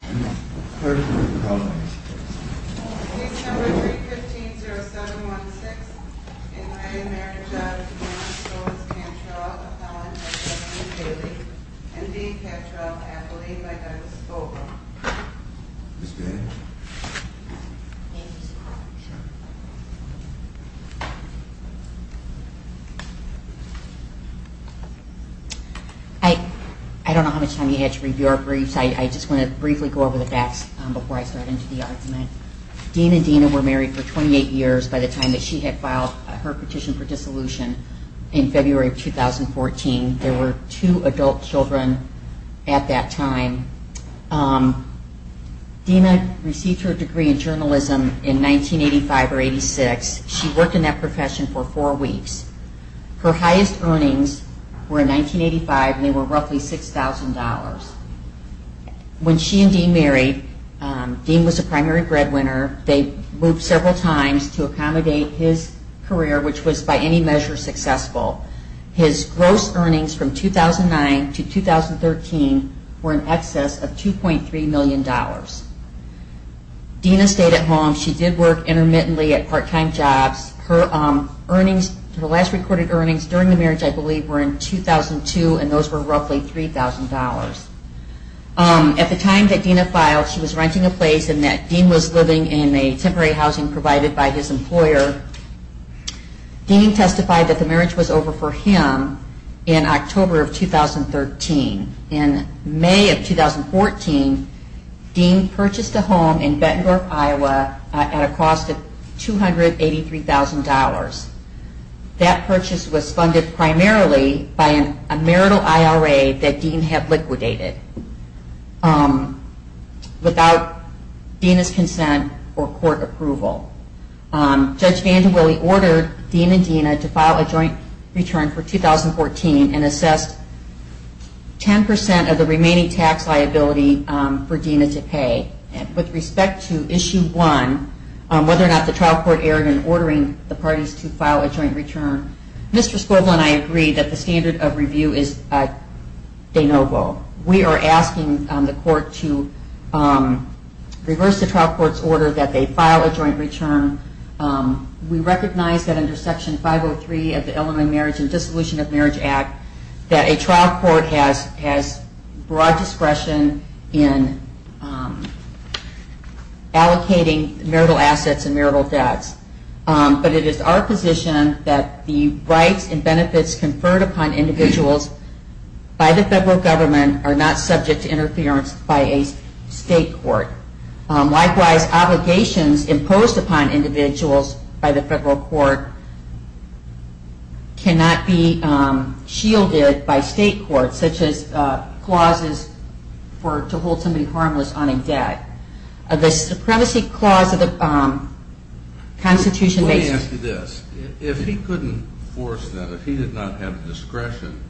and D. Cantrill-Appley by Douglas Fogel. I don't know how much time you had to read your briefs, I just want to briefly go over the facts before I start into the argument. Dean and Dina were married for 28 years by the time that she had filed her petition for dissolution in February of 2014. There were two adult children at that time. Dina received her degree in journalism in 1985 or 86. She worked in that profession for four weeks. Her highest earnings were in 1985 and they were roughly $6,000. When she and Dean married, Dean was a primary breadwinner. They moved several times to accommodate his career, which was by any measure successful. His gross earnings from 2009 to 2013 were in excess of $2.3 million. Dina stayed at home. She did work intermittently at part-time jobs. Her last recorded earnings during the marriage I believe were in 2002 and those were roughly $3,000. At the time that Dina filed, she was renting a place and that Dean was living in a temporary housing provided by his employer. Dean testified that the marriage was over for him in October of 2013. In May of 2014, Dean purchased a home in primarily by a marital IRA that Dean had liquidated without Dina's consent or court approval. Judge Vandewille ordered Dean and Dina to file a joint return for 2014 and assessed 10% of the remaining tax liability for Dina to pay. With respect to issue one, whether or not the trial court erred in ordering the standard of review is de novo. We are asking the court to reverse the trial court's order that they file a joint return. We recognize that under Section 503 of the Elderly Marriage and Dissolution of Marriage Act that a trial court has broad discretion in allocating marital assets and marital debts, but it is our position that the rights and benefits conferred upon individuals by the federal government are not subject to interference by a state court. Likewise, obligations imposed upon individuals by the federal court cannot be shielded by state courts, such as clauses to hold somebody harmless on a debt. The Supremacy Clause of the Constitution makes it... Let me ask you this. If he couldn't force that, if he did not have discretion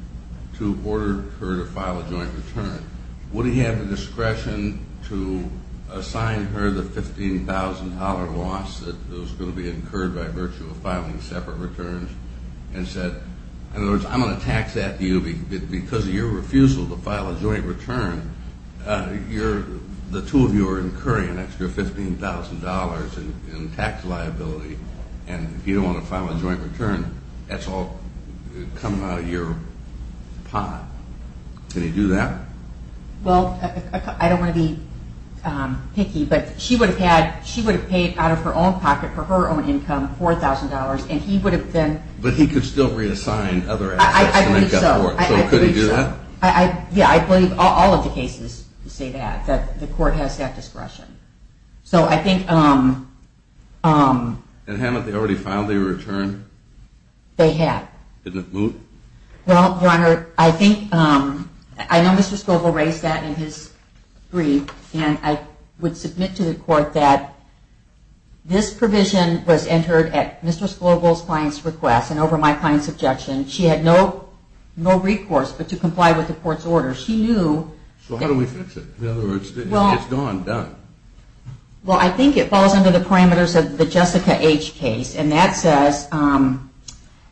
to order her to file a joint return, would he have the discretion to assign her the $15,000 loss that was going to be incurred by virtue of filing separate returns and said, in other words, I'm going to tax that to you because of your incurring an extra $15,000 in tax liability, and if you don't want to file a joint return, that's all coming out of your pot. Can he do that? Well, I don't want to be picky, but she would have paid out of her own pocket for her own income, $4,000, and he would have then... But he could still reassign other assets to make up for it. I believe so. So could he do that? Yeah, I believe all of the cases say that, that the court has that discretion. So I think... And haven't they already filed their return? They have. Didn't it move? Well, Your Honor, I think... I know Mr. Scovel raised that in his brief, and I would submit to the court that this provision was entered at Mr. Scovel's client's request and over my client's objection. She had no recourse but to comply with the court's order. She knew... So how do we fix it? In other words, it's gone, done. Well, I think it falls under the parameters of the Jessica H. case, and that says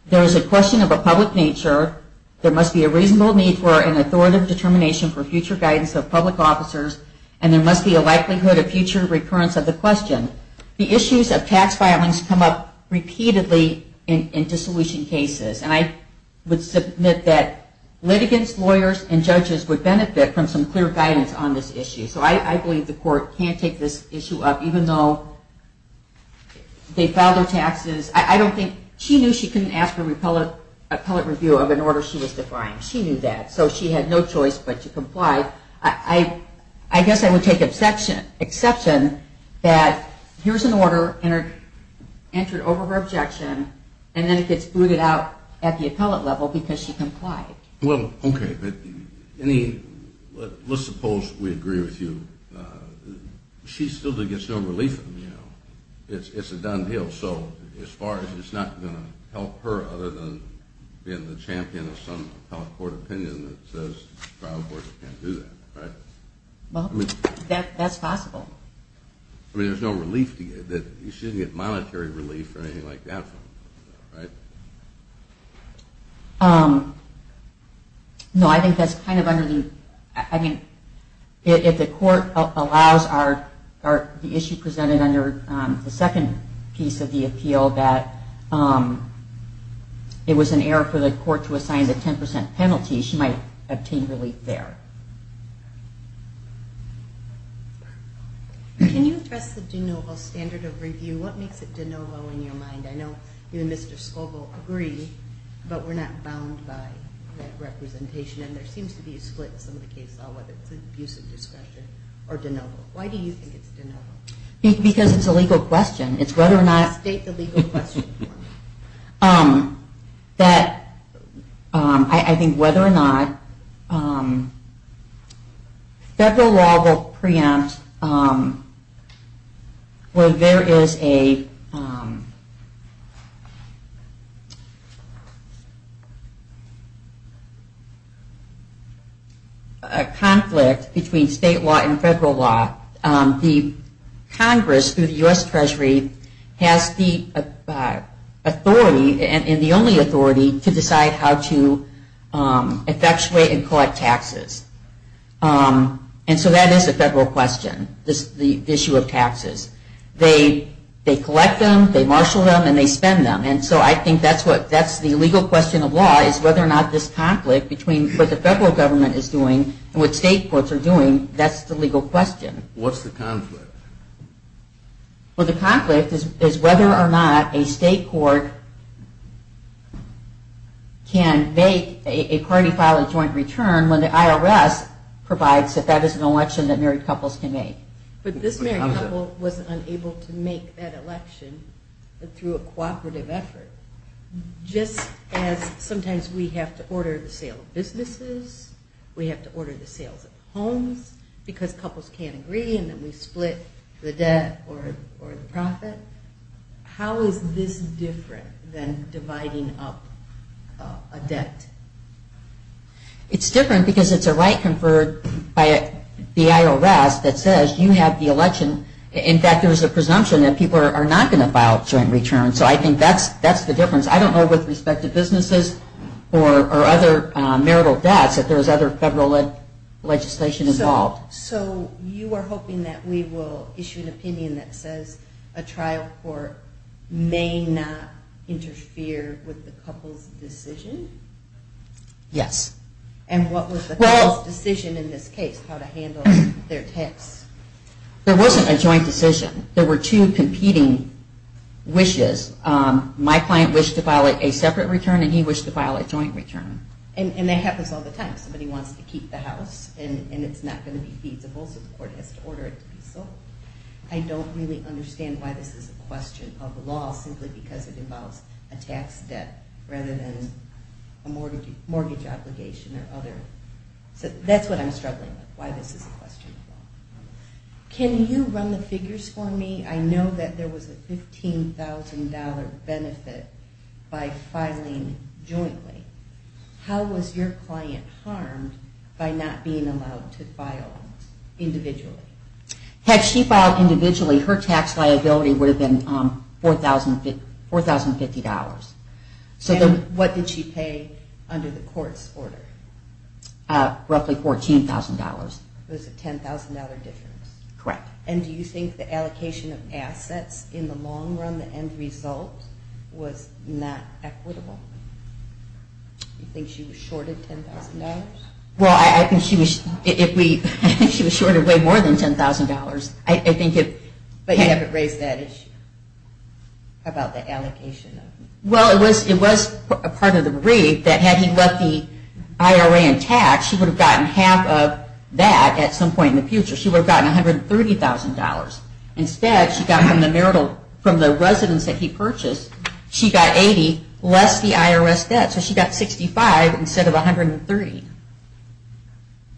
there is a question of a public nature, there must be a reasonable need for an authoritative determination for future guidance of public officers, and there must be a likelihood of future recurrence of the question. The issues of tax filings come up repeatedly in dissolution cases, and I would submit that litigants, lawyers, and judges would benefit from some clear guidance on this issue. So I believe the court can take this issue up, even though they filed their taxes. I don't think... She knew she couldn't ask for an appellate review of an order she was defying. She knew that. So she had no choice but to comply. I guess I would take exception that here's an order entered over her objection, and then it gets booted out at the appellate level because she didn't comply. Okay. But let's suppose we agree with you. She still gets no relief from you. It's a done deal. So as far as it's not going to help her other than being the champion of some appellate court opinion that says trial courts can't do that, right? Well, that's possible. I mean, there's no relief that you shouldn't get monetary relief or anything like that from her, right? No, I think that's kind of under the... I mean, if the court allows the issue presented under the second piece of the appeal that it was an error for the court to assign the 10% penalty, she might obtain relief there. Can you address the de novo standard of review? What makes it de novo in your mind? I know you and Mr. Scoble agree, but we're not bound by that representation, and there seems to be a split in some of the cases on whether it's an abuse of discretion or de novo. Why do you think it's de novo? Because it's a legal question. It's whether or not... State the legal question for me. That I think whether or not federal law will preempt where there is a conflict between state law and federal law. The Congress, through the only authority to decide how to effectuate and collect taxes. And so that is a federal question, the issue of taxes. They collect them, they marshal them, and they spend them. And so I think that's the legal question of law, is whether or not this conflict between what the federal government is doing and what state courts are doing, that's the legal question. What's the conflict? Well, the conflict is whether or not a state court can make a party file a joint return when the IRS provides that that is an election that married couples can make. But this married couple was unable to make that election through a cooperative effort, just as sometimes we have to order the sale of businesses, we have to order the sales of homes, because couples can't agree and then we split the debt or the profit. How is this different than dividing up a debt? It's different because it's a right conferred by the IRS that says you have the election. In fact, there's a presumption that people are not going to file a joint return. So I think that's the difference. I don't know with respect to businesses or other marital debts if there's other federal legislation involved. So you are hoping that we will issue an opinion that says a trial court may not interfere with the couple's decision? Yes. And what was the couple's decision in this case, how to handle their tax? There wasn't a joint decision. There were two competing wishes. My client wished to file a separate return and he wished to file a joint return. And that happens all the time. Somebody wants to keep the house and it's not going to be feasible so the court has to order it to be sold. I don't really understand why this is a question of law simply because it involves a tax debt rather than a mortgage obligation or other. So that's what I'm struggling with, why this is a question of law. Can you run the figures for me? I know that there was a $15,000 benefit by filing jointly. How was your client harmed by not being allowed to file individually? Had she filed individually, her tax liability would have been $4,050. And what did she pay under the court's order? Roughly $14,000. It was a $10,000 difference. Correct. And do you think the allocation of assets in the long run, the end result was not equitable? Do you think she was shorted $10,000? Well, I think she was shorted way more than $10,000. But you haven't raised that issue about the allocation. Well, it was a part of the brief that had he left the IRA in tax, she would have gotten half of that at some point in the future. She would have gotten $130,000. Instead, she got from the residents that he purchased, she got $80,000 less the IRS debt. So she got $65,000 instead of $130,000.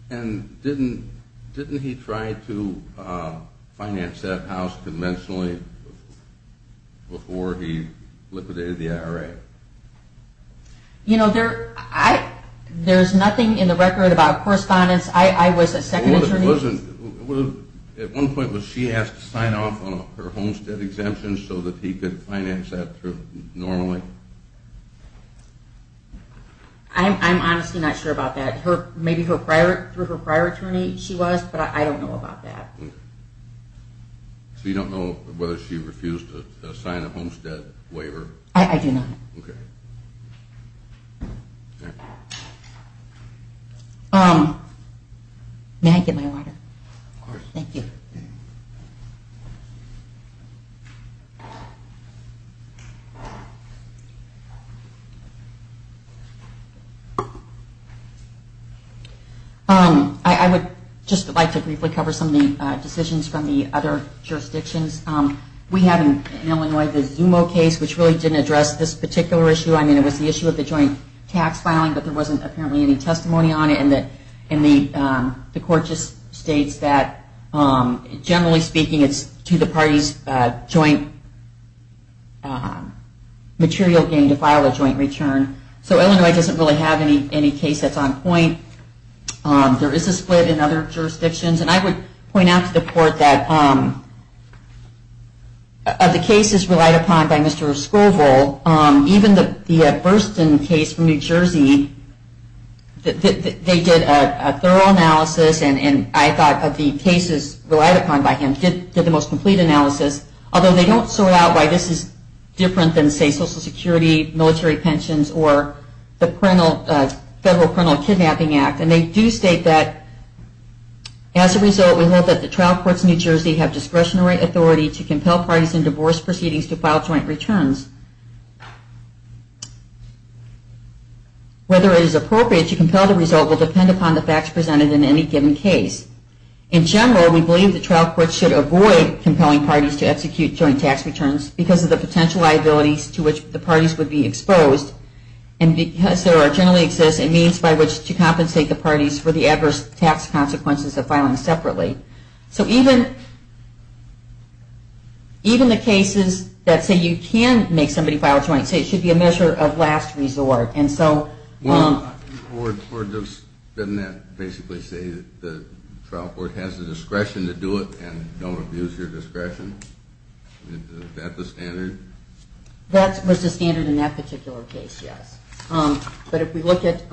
And didn't he try to finance that house conventionally before he liquidated the IRA? You know, there's nothing in the record about correspondence. I was a second attorney. At one point, was she asked to sign off on her homestead exemptions so that he could finance that normally? I'm honestly not sure about that. Maybe through her prior attorney she was, but I don't know about that. So you don't know whether she refused to sign a homestead waiver? I do not. Okay. May I get my water? Of course. Thank you. I would just like to briefly cover some of the decisions from the other jurisdictions. We have in Illinois the Zumo case, which really didn't address this particular issue. I mean, it was the issue of the joint tax filing, but there wasn't apparently any testimony on it. And the court just states that, generally speaking, it's to the party's joint material gain to file a joint return. So Illinois doesn't really have any case that's on point. There is a split in other jurisdictions. And I would point out to the court that of the cases relied upon by Dr. Scovel, even the Burston case from New Jersey, they did a thorough analysis. And I thought of the cases relied upon by him did the most complete analysis, although they don't sort out why this is different than, say, Social Security, military pensions, or the Federal Parental Kidnapping Act. And they do state that, as a result, we hope that the trial courts in New Jersey have discretionary authority to compel parties in divorce proceedings to file joint returns. Whether it is appropriate to compel the result will depend upon the facts presented in any given case. In general, we believe the trial courts should avoid compelling parties to execute joint tax returns because of the potential liabilities to which the parties would be exposed, and because there generally exists a means by which to compensate the parties for the adverse tax consequences of filing separately. So even the cases that say you can make somebody file a joint, say it should be a measure of last resort. And so... Well, doesn't that basically say that the trial court has the discretion to do it and don't abuse your discretion? Is that the standard? That was the standard in that particular case, yes. But if we look at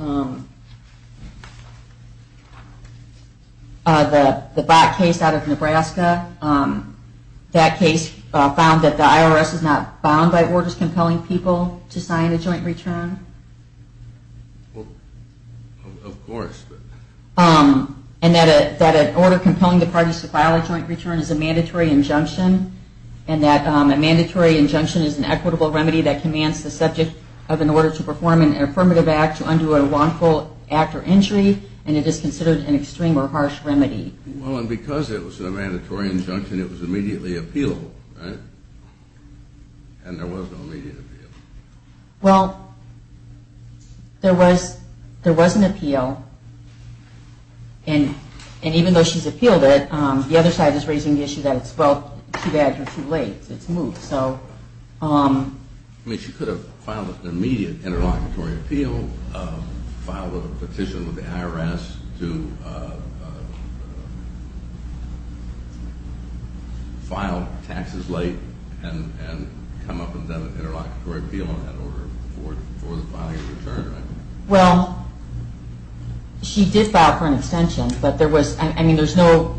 the Black case out of Nebraska, that case found that the IRS is not bound by orders compelling people to sign a joint return. Of course. And that an order compelling the parties to file a joint return is a mandatory injunction, and that a mandatory injunction is an equitable form of an affirmative act to undo a wrongful act or injury, and it is considered an extreme or harsh remedy. Well, and because it was a mandatory injunction, it was immediately appealed, right? And there was no immediate appeal. Well, there was an appeal, and even though she's appealed it, the other side is raising the issue that it's, well, too bad you're too late. It's moved. I mean, she could have filed an immediate interlocutory appeal, filed a petition with the IRS to file taxes late and come up with an interlocutory appeal on that order for the filing of a return, right? Well, she did file for an extension, but there was no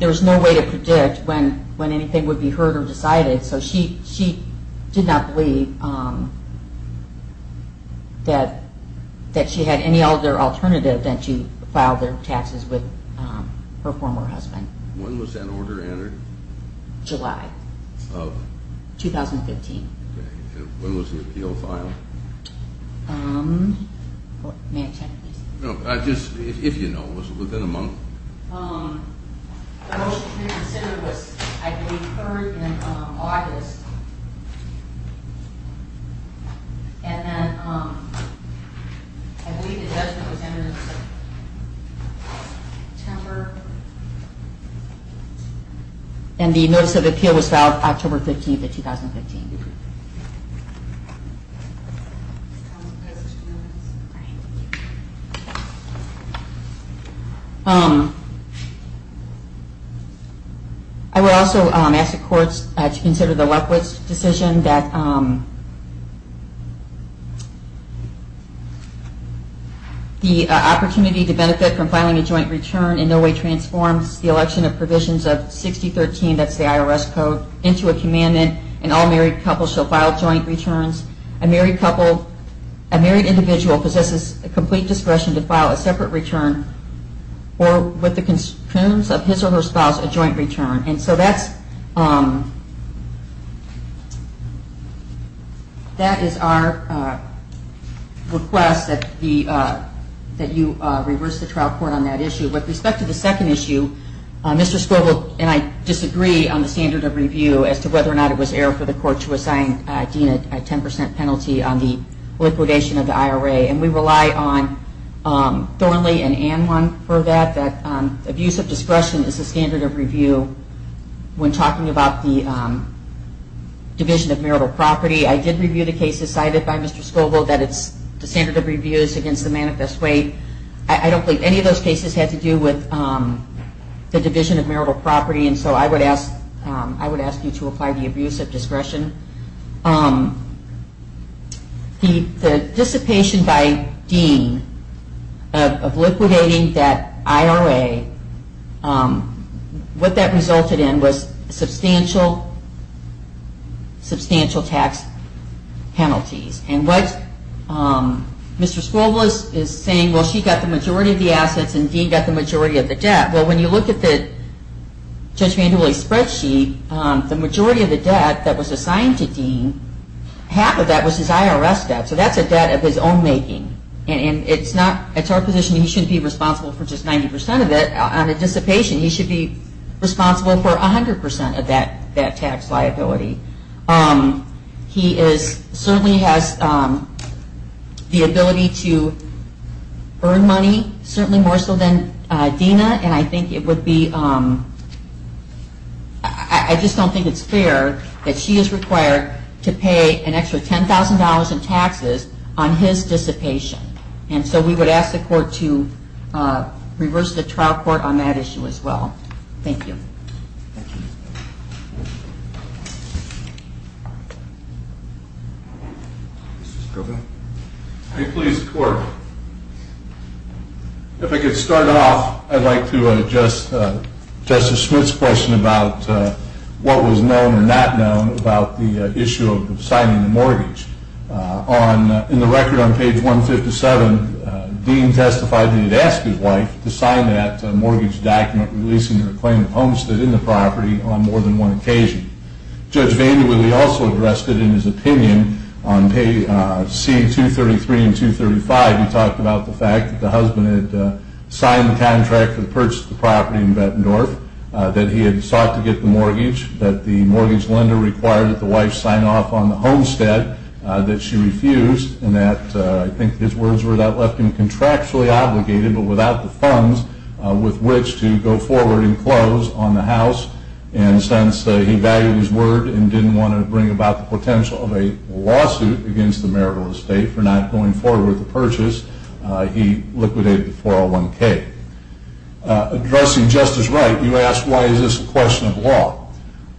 way to predict when anything would be heard or decided, so she did not believe that she had any other alternative than to file their taxes with her former husband. When was that order entered? July. Of? 2015. Okay. And when was the appeal filed? May I check, please? No, just if you know. Was it within a month? The motion to reconsider was, I believe, third in August, and then I believe the judgment was entered September, and the notice of appeal was filed October 15th of 2015. I would also ask the courts to consider the Lechwitz decision that the opportunity to benefit from filing a joint return in no way transforms the joint returns. A married couple, a married individual possesses complete discretion to file a separate return or, with the concerns of his or her spouse, a joint return. And so that is our request that you reverse the trial court on that issue. With respect to the second issue, Mr. Scoville and I disagree on the standard of review as to whether or not it was error for the court to assign Dean a 10 percent penalty on the liquidation of the IRA, and we rely on Thornley and Ann one for that, that abuse of discretion is the standard of review when talking about the division of marital property. I did review the cases cited by Mr. Scoville, that it's the standard of review is against the manifest way. I don't believe any of those cases had to do with the division of marital property, and so I would ask you to apply the abuse of discretion. The dissipation by Dean of liquidating that IRA, what that resulted in was substantial tax penalties. And what Mr. Scoville is saying, well, she got the majority of the assets and Dean got the majority of the debt. Well, when you look at the spreadsheet, the majority of the debt that was assigned to Dean, half of that was his IRS debt, so that's a debt of his own making, and it's our position he shouldn't be responsible for just 90 percent of it. On the dissipation, he should be responsible for 100 percent of that tax liability. He certainly has the ability to earn money, certainly more so than Dina, and I think it would be, I just don't think it's fair that she is required to pay an extra $10,000 in taxes on his dissipation. And so we would ask the court to reverse the trial court on that issue as well. Thank you. Mr. Scoville. If I could start off, I'd like to address Justice Smith's question about what was known or not known about the issue of signing the mortgage. In the record on page 157, Dean testified that he had asked his wife to sign that mortgage document releasing her claim of homestead in the property on more than one occasion. Judge Vandewille also addressed it in his opinion on page C233 and 235. He talked about the fact that the husband had signed the contract to purchase the property in Bettendorf, that he had sought to get the mortgage, that the mortgage lender required that the wife sign off on the homestead that she refused, and that I think his words were that left him contractually obligated but without the funds with which to go forward and close on the house. And since he valued his word and didn't want to bring about the potential of a lawsuit against the marital estate for not going forward with the purchase, he liquidated the 401K. Addressing Justice Wright, you asked why is this a question of law.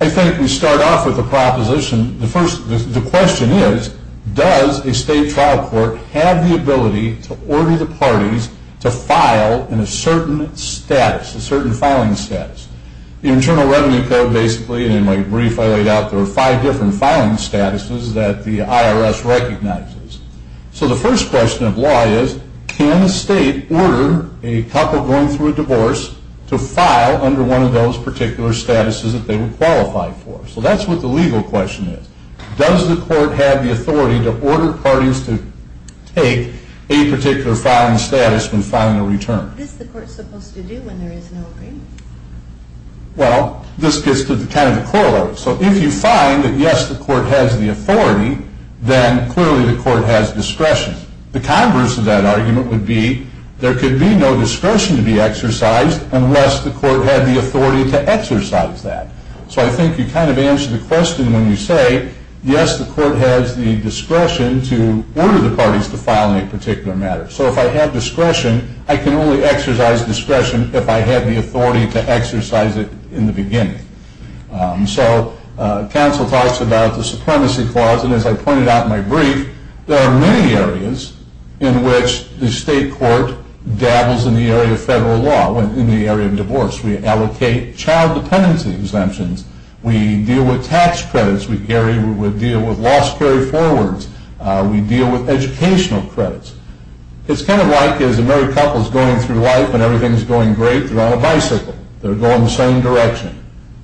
I think we start off with a proposition. The question is, does a state trial court have the ability to order the parties to file in a certain status, a certain filing status? The Internal Revenue Code basically, and in my brief I laid out, there are five different filing statuses that the IRS recognizes. So the first question of law is, can a state order a couple going through a divorce to file under one of those particular statuses that they would qualify for? So that's what the legal question is. Does the court have the authority to order parties to take a particular filing status when filing a return? What is the court supposed to do when there is no agreement? Well, this gets to kind of the core of it. So if you find that, yes, the court has the authority, then clearly the court has discretion. The converse of that argument would be there could be no discretion to be exercised unless the court had the authority to exercise that. So I think you kind of answer the question when you say, yes, the court has the discretion to order the parties to file on a particular matter. So if I have discretion, I can only exercise discretion if I had the authority to exercise it in the beginning. So counsel talks about the supremacy clause, and as I pointed out in my brief, there are many areas in which the state court dabbles in the area of federal law, in the area of divorce. We allocate child dependency exemptions. We deal with tax credits. We deal with law security forwards. We deal with educational credits. It's kind of like as a married couple is going through life and everything is going great, they're on a bicycle. They're going the same direction.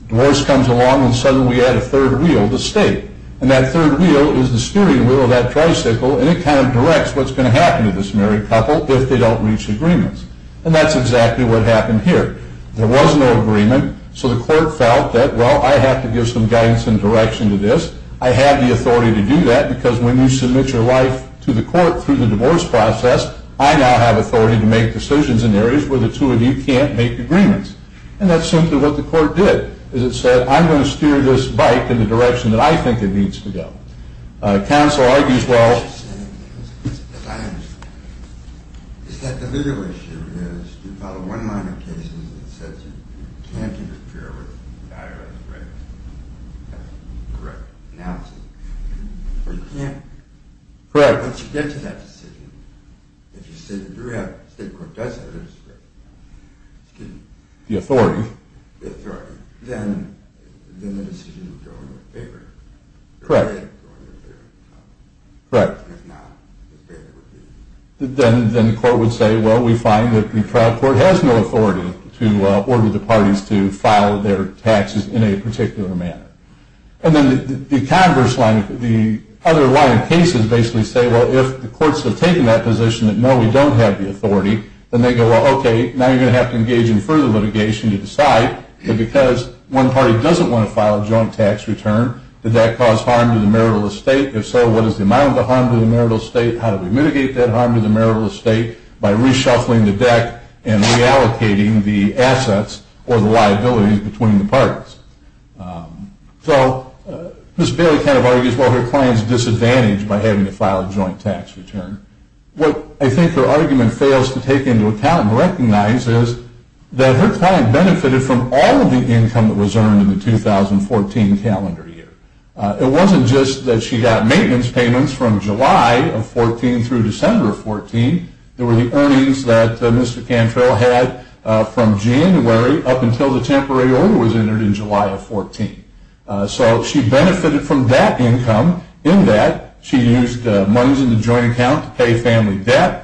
Divorce comes along and suddenly we add a third wheel to state, and that third wheel is the steering wheel of that tricycle, and it kind of directs what's going to happen to this married couple if they don't reach agreements. And that's exactly what happened here. There was no agreement, so the court felt that, well, I have to give some guidance and direction to this. I have the authority to do that because when you submit your life to the court through the divorce process, I now have authority to make decisions in areas where the two of you can't make agreements. And that's simply what the court did, is it said, I'm going to steer this bike in the direction that I think it needs to go. Counsel argues, well... Correct. The authority. Then... Correct. Correct. Then the court would say, well, we find that the trial court has no authority to order the parties to file their taxes in a particular manner. And then the converse line, the other line of cases, basically say, well, if the courts have taken that position that, no, we don't have the authority, then they go, well, okay, now you're going to have to engage in further litigation to decide that because one party doesn't want to file a joint tax return, did that cause harm to the marital estate? If so, what is the amount of the harm to the marital estate? How do we mitigate that harm to the marital estate? By reshuffling the deck and reallocating the assets or the liabilities between the parties. So Ms. Bailey kind of argues, well, her client is disadvantaged by having to file a joint tax return. What I think her argument fails to take into account and recognize is that her client benefited from all of the income that was earned in the 2014 calendar year. It wasn't just that she got maintenance payments from July of 14 through December of 14. There were the earnings that Mr. Cantrell had from January up until the temporary order was entered in July of 14. So she benefited from that income in that she used monies in the joint account to pay family debt.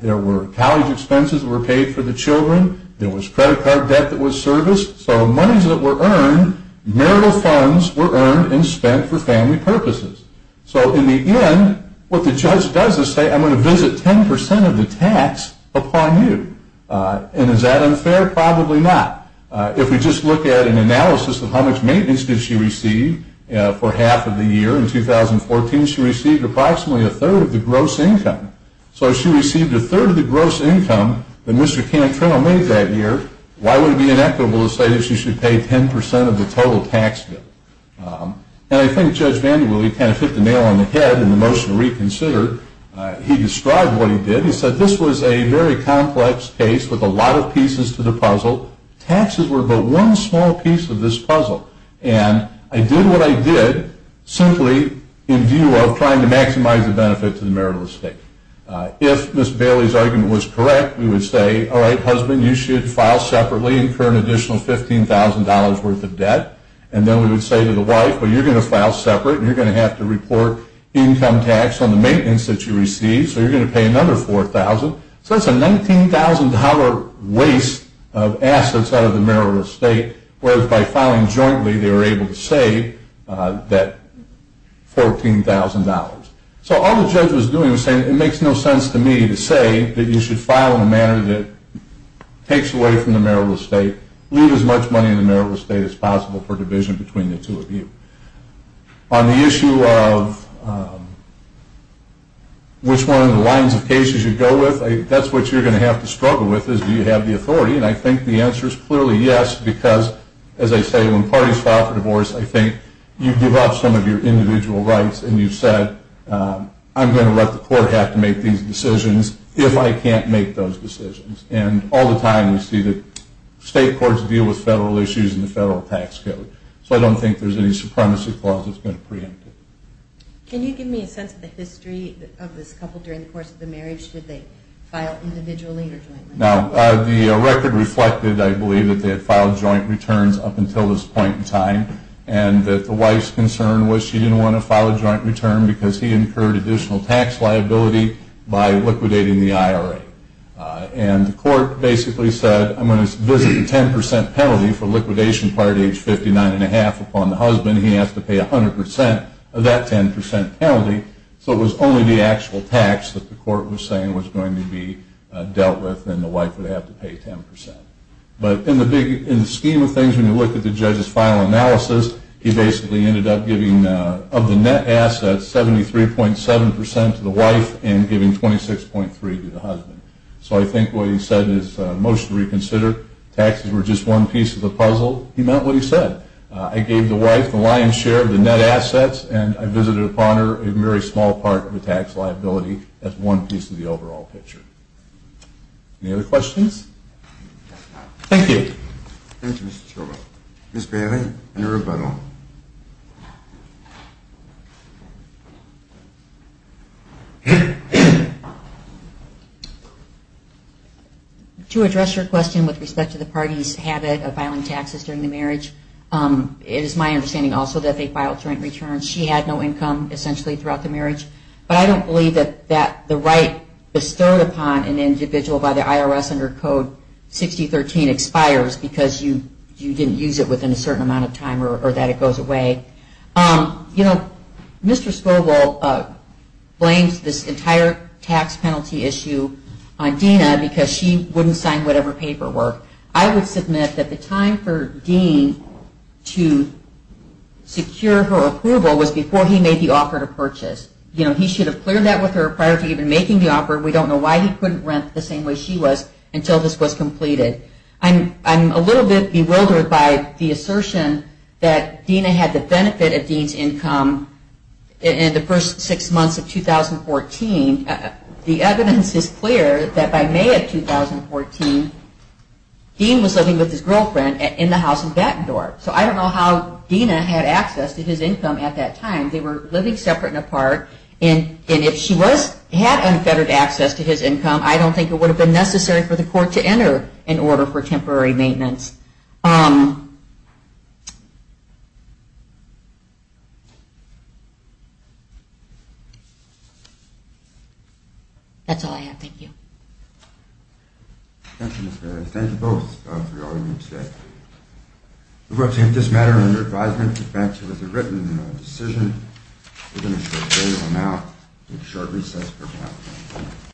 There were college expenses that were paid for the children. There was credit card debt that was serviced. So monies that were earned, marital funds were earned and spent for family purposes. So in the end, what the judge does is say, I'm going to visit 10% of the tax upon you. And is that unfair? Probably not. If we just look at an analysis of how much maintenance did she receive for half of the year in 2014, she received approximately a third of the gross income. So if she received a third of the gross income that Mr. Cantrell made that year, why would it be inequitable to say that she should pay 10% of the total tax bill? And I think Judge Vandewille, he kind of hit the nail on the head in the motion to reconsider. He described what he did. He said this was a very complex case with a lot of pieces to the puzzle. Taxes were but one small piece of this puzzle. And I did what I did simply in view of trying to maximize the benefit to the marital estate. If Ms. Bailey's argument was correct, we would say, all right, husband, you should file separately and incur an additional $15,000 worth of debt. And then we would say to the wife, well, you're going to file separate, and you're going to have to report income tax on the maintenance that you received. So you're going to pay another $4,000. So that's a $19,000 waste of assets out of the marital estate, whereas by filing jointly, they were able to save that $14,000. So all the judge was doing was saying, it makes no sense to me to say that you should file in a manner that takes away from the marital estate, leave as much money in the marital estate as possible for division between the two of you. On the issue of which one of the lines of cases you go with, that's what you're going to have to struggle with is do you have the authority? And I think the answer is clearly yes, because, as I say, when parties file for divorce, I think you give up some of your individual rights, and you've said I'm going to let the court have to make these decisions if I can't make those decisions. And all the time we see the state courts deal with federal issues and the federal tax code. So I don't think there's any supremacy clause that's going to preempt it. Can you give me a sense of the history of this couple during the course of the marriage? Did they file individually or jointly? Now, the record reflected, I believe, that they had filed joint returns up until this point in time and that the wife's concern was she didn't want to file a joint return because he incurred additional tax liability by liquidating the IRA. And the court basically said, I'm going to visit the 10 percent penalty for liquidation prior to age 59 and a half upon the husband. He has to pay 100 percent of that 10 percent penalty. So it was only the actual tax that the court was saying was going to be paid 10 percent. But in the scheme of things, when you look at the judge's final analysis, he basically ended up giving, of the net assets, 73.7 percent to the wife and giving 26.3 to the husband. So I think what he said is mostly reconsidered. Taxes were just one piece of the puzzle. He meant what he said. I gave the wife the lion's share of the net assets, and I visited upon her a very small part of the tax liability. That's one piece of the overall picture. Any other questions? Thank you. Thank you, Mr. Chobot. Ms. Bailey, any rebuttal? To address your question with respect to the party's habit of filing taxes during the marriage, it is my understanding also that they filed joint returns. She had no income, essentially, throughout the marriage. But I don't believe that the right bestowed upon an individual by the IRS under Code 6013 expires because you didn't use it within a certain amount of time or that it goes away. Mr. Scovel blames this entire tax penalty issue on Dina because she wouldn't sign whatever paperwork. I would submit that the time for Dean to secure her approval was before he offered a purchase. He should have cleared that with her prior to even making the offer. We don't know why he couldn't rent the same way she was until this was completed. I'm a little bit bewildered by the assertion that Dina had the benefit of Dean's income in the first six months of 2014. The evidence is clear that by May of 2014, Dean was living with his girlfriend in the house in Bettendorf. So I don't know how Dina had access to his income at that time. They were living separate and apart. And if she had unfettered access to his income, I don't think it would have been necessary for the court to enter an order for temporary maintenance. That's all I have. Thank you. Thank you, Ms. Barrett. Thank you both for your argument today. We will take this matter under advisement. The facts are as they're written in our decision. We're going to take a short break now. We'll take a short recess for now.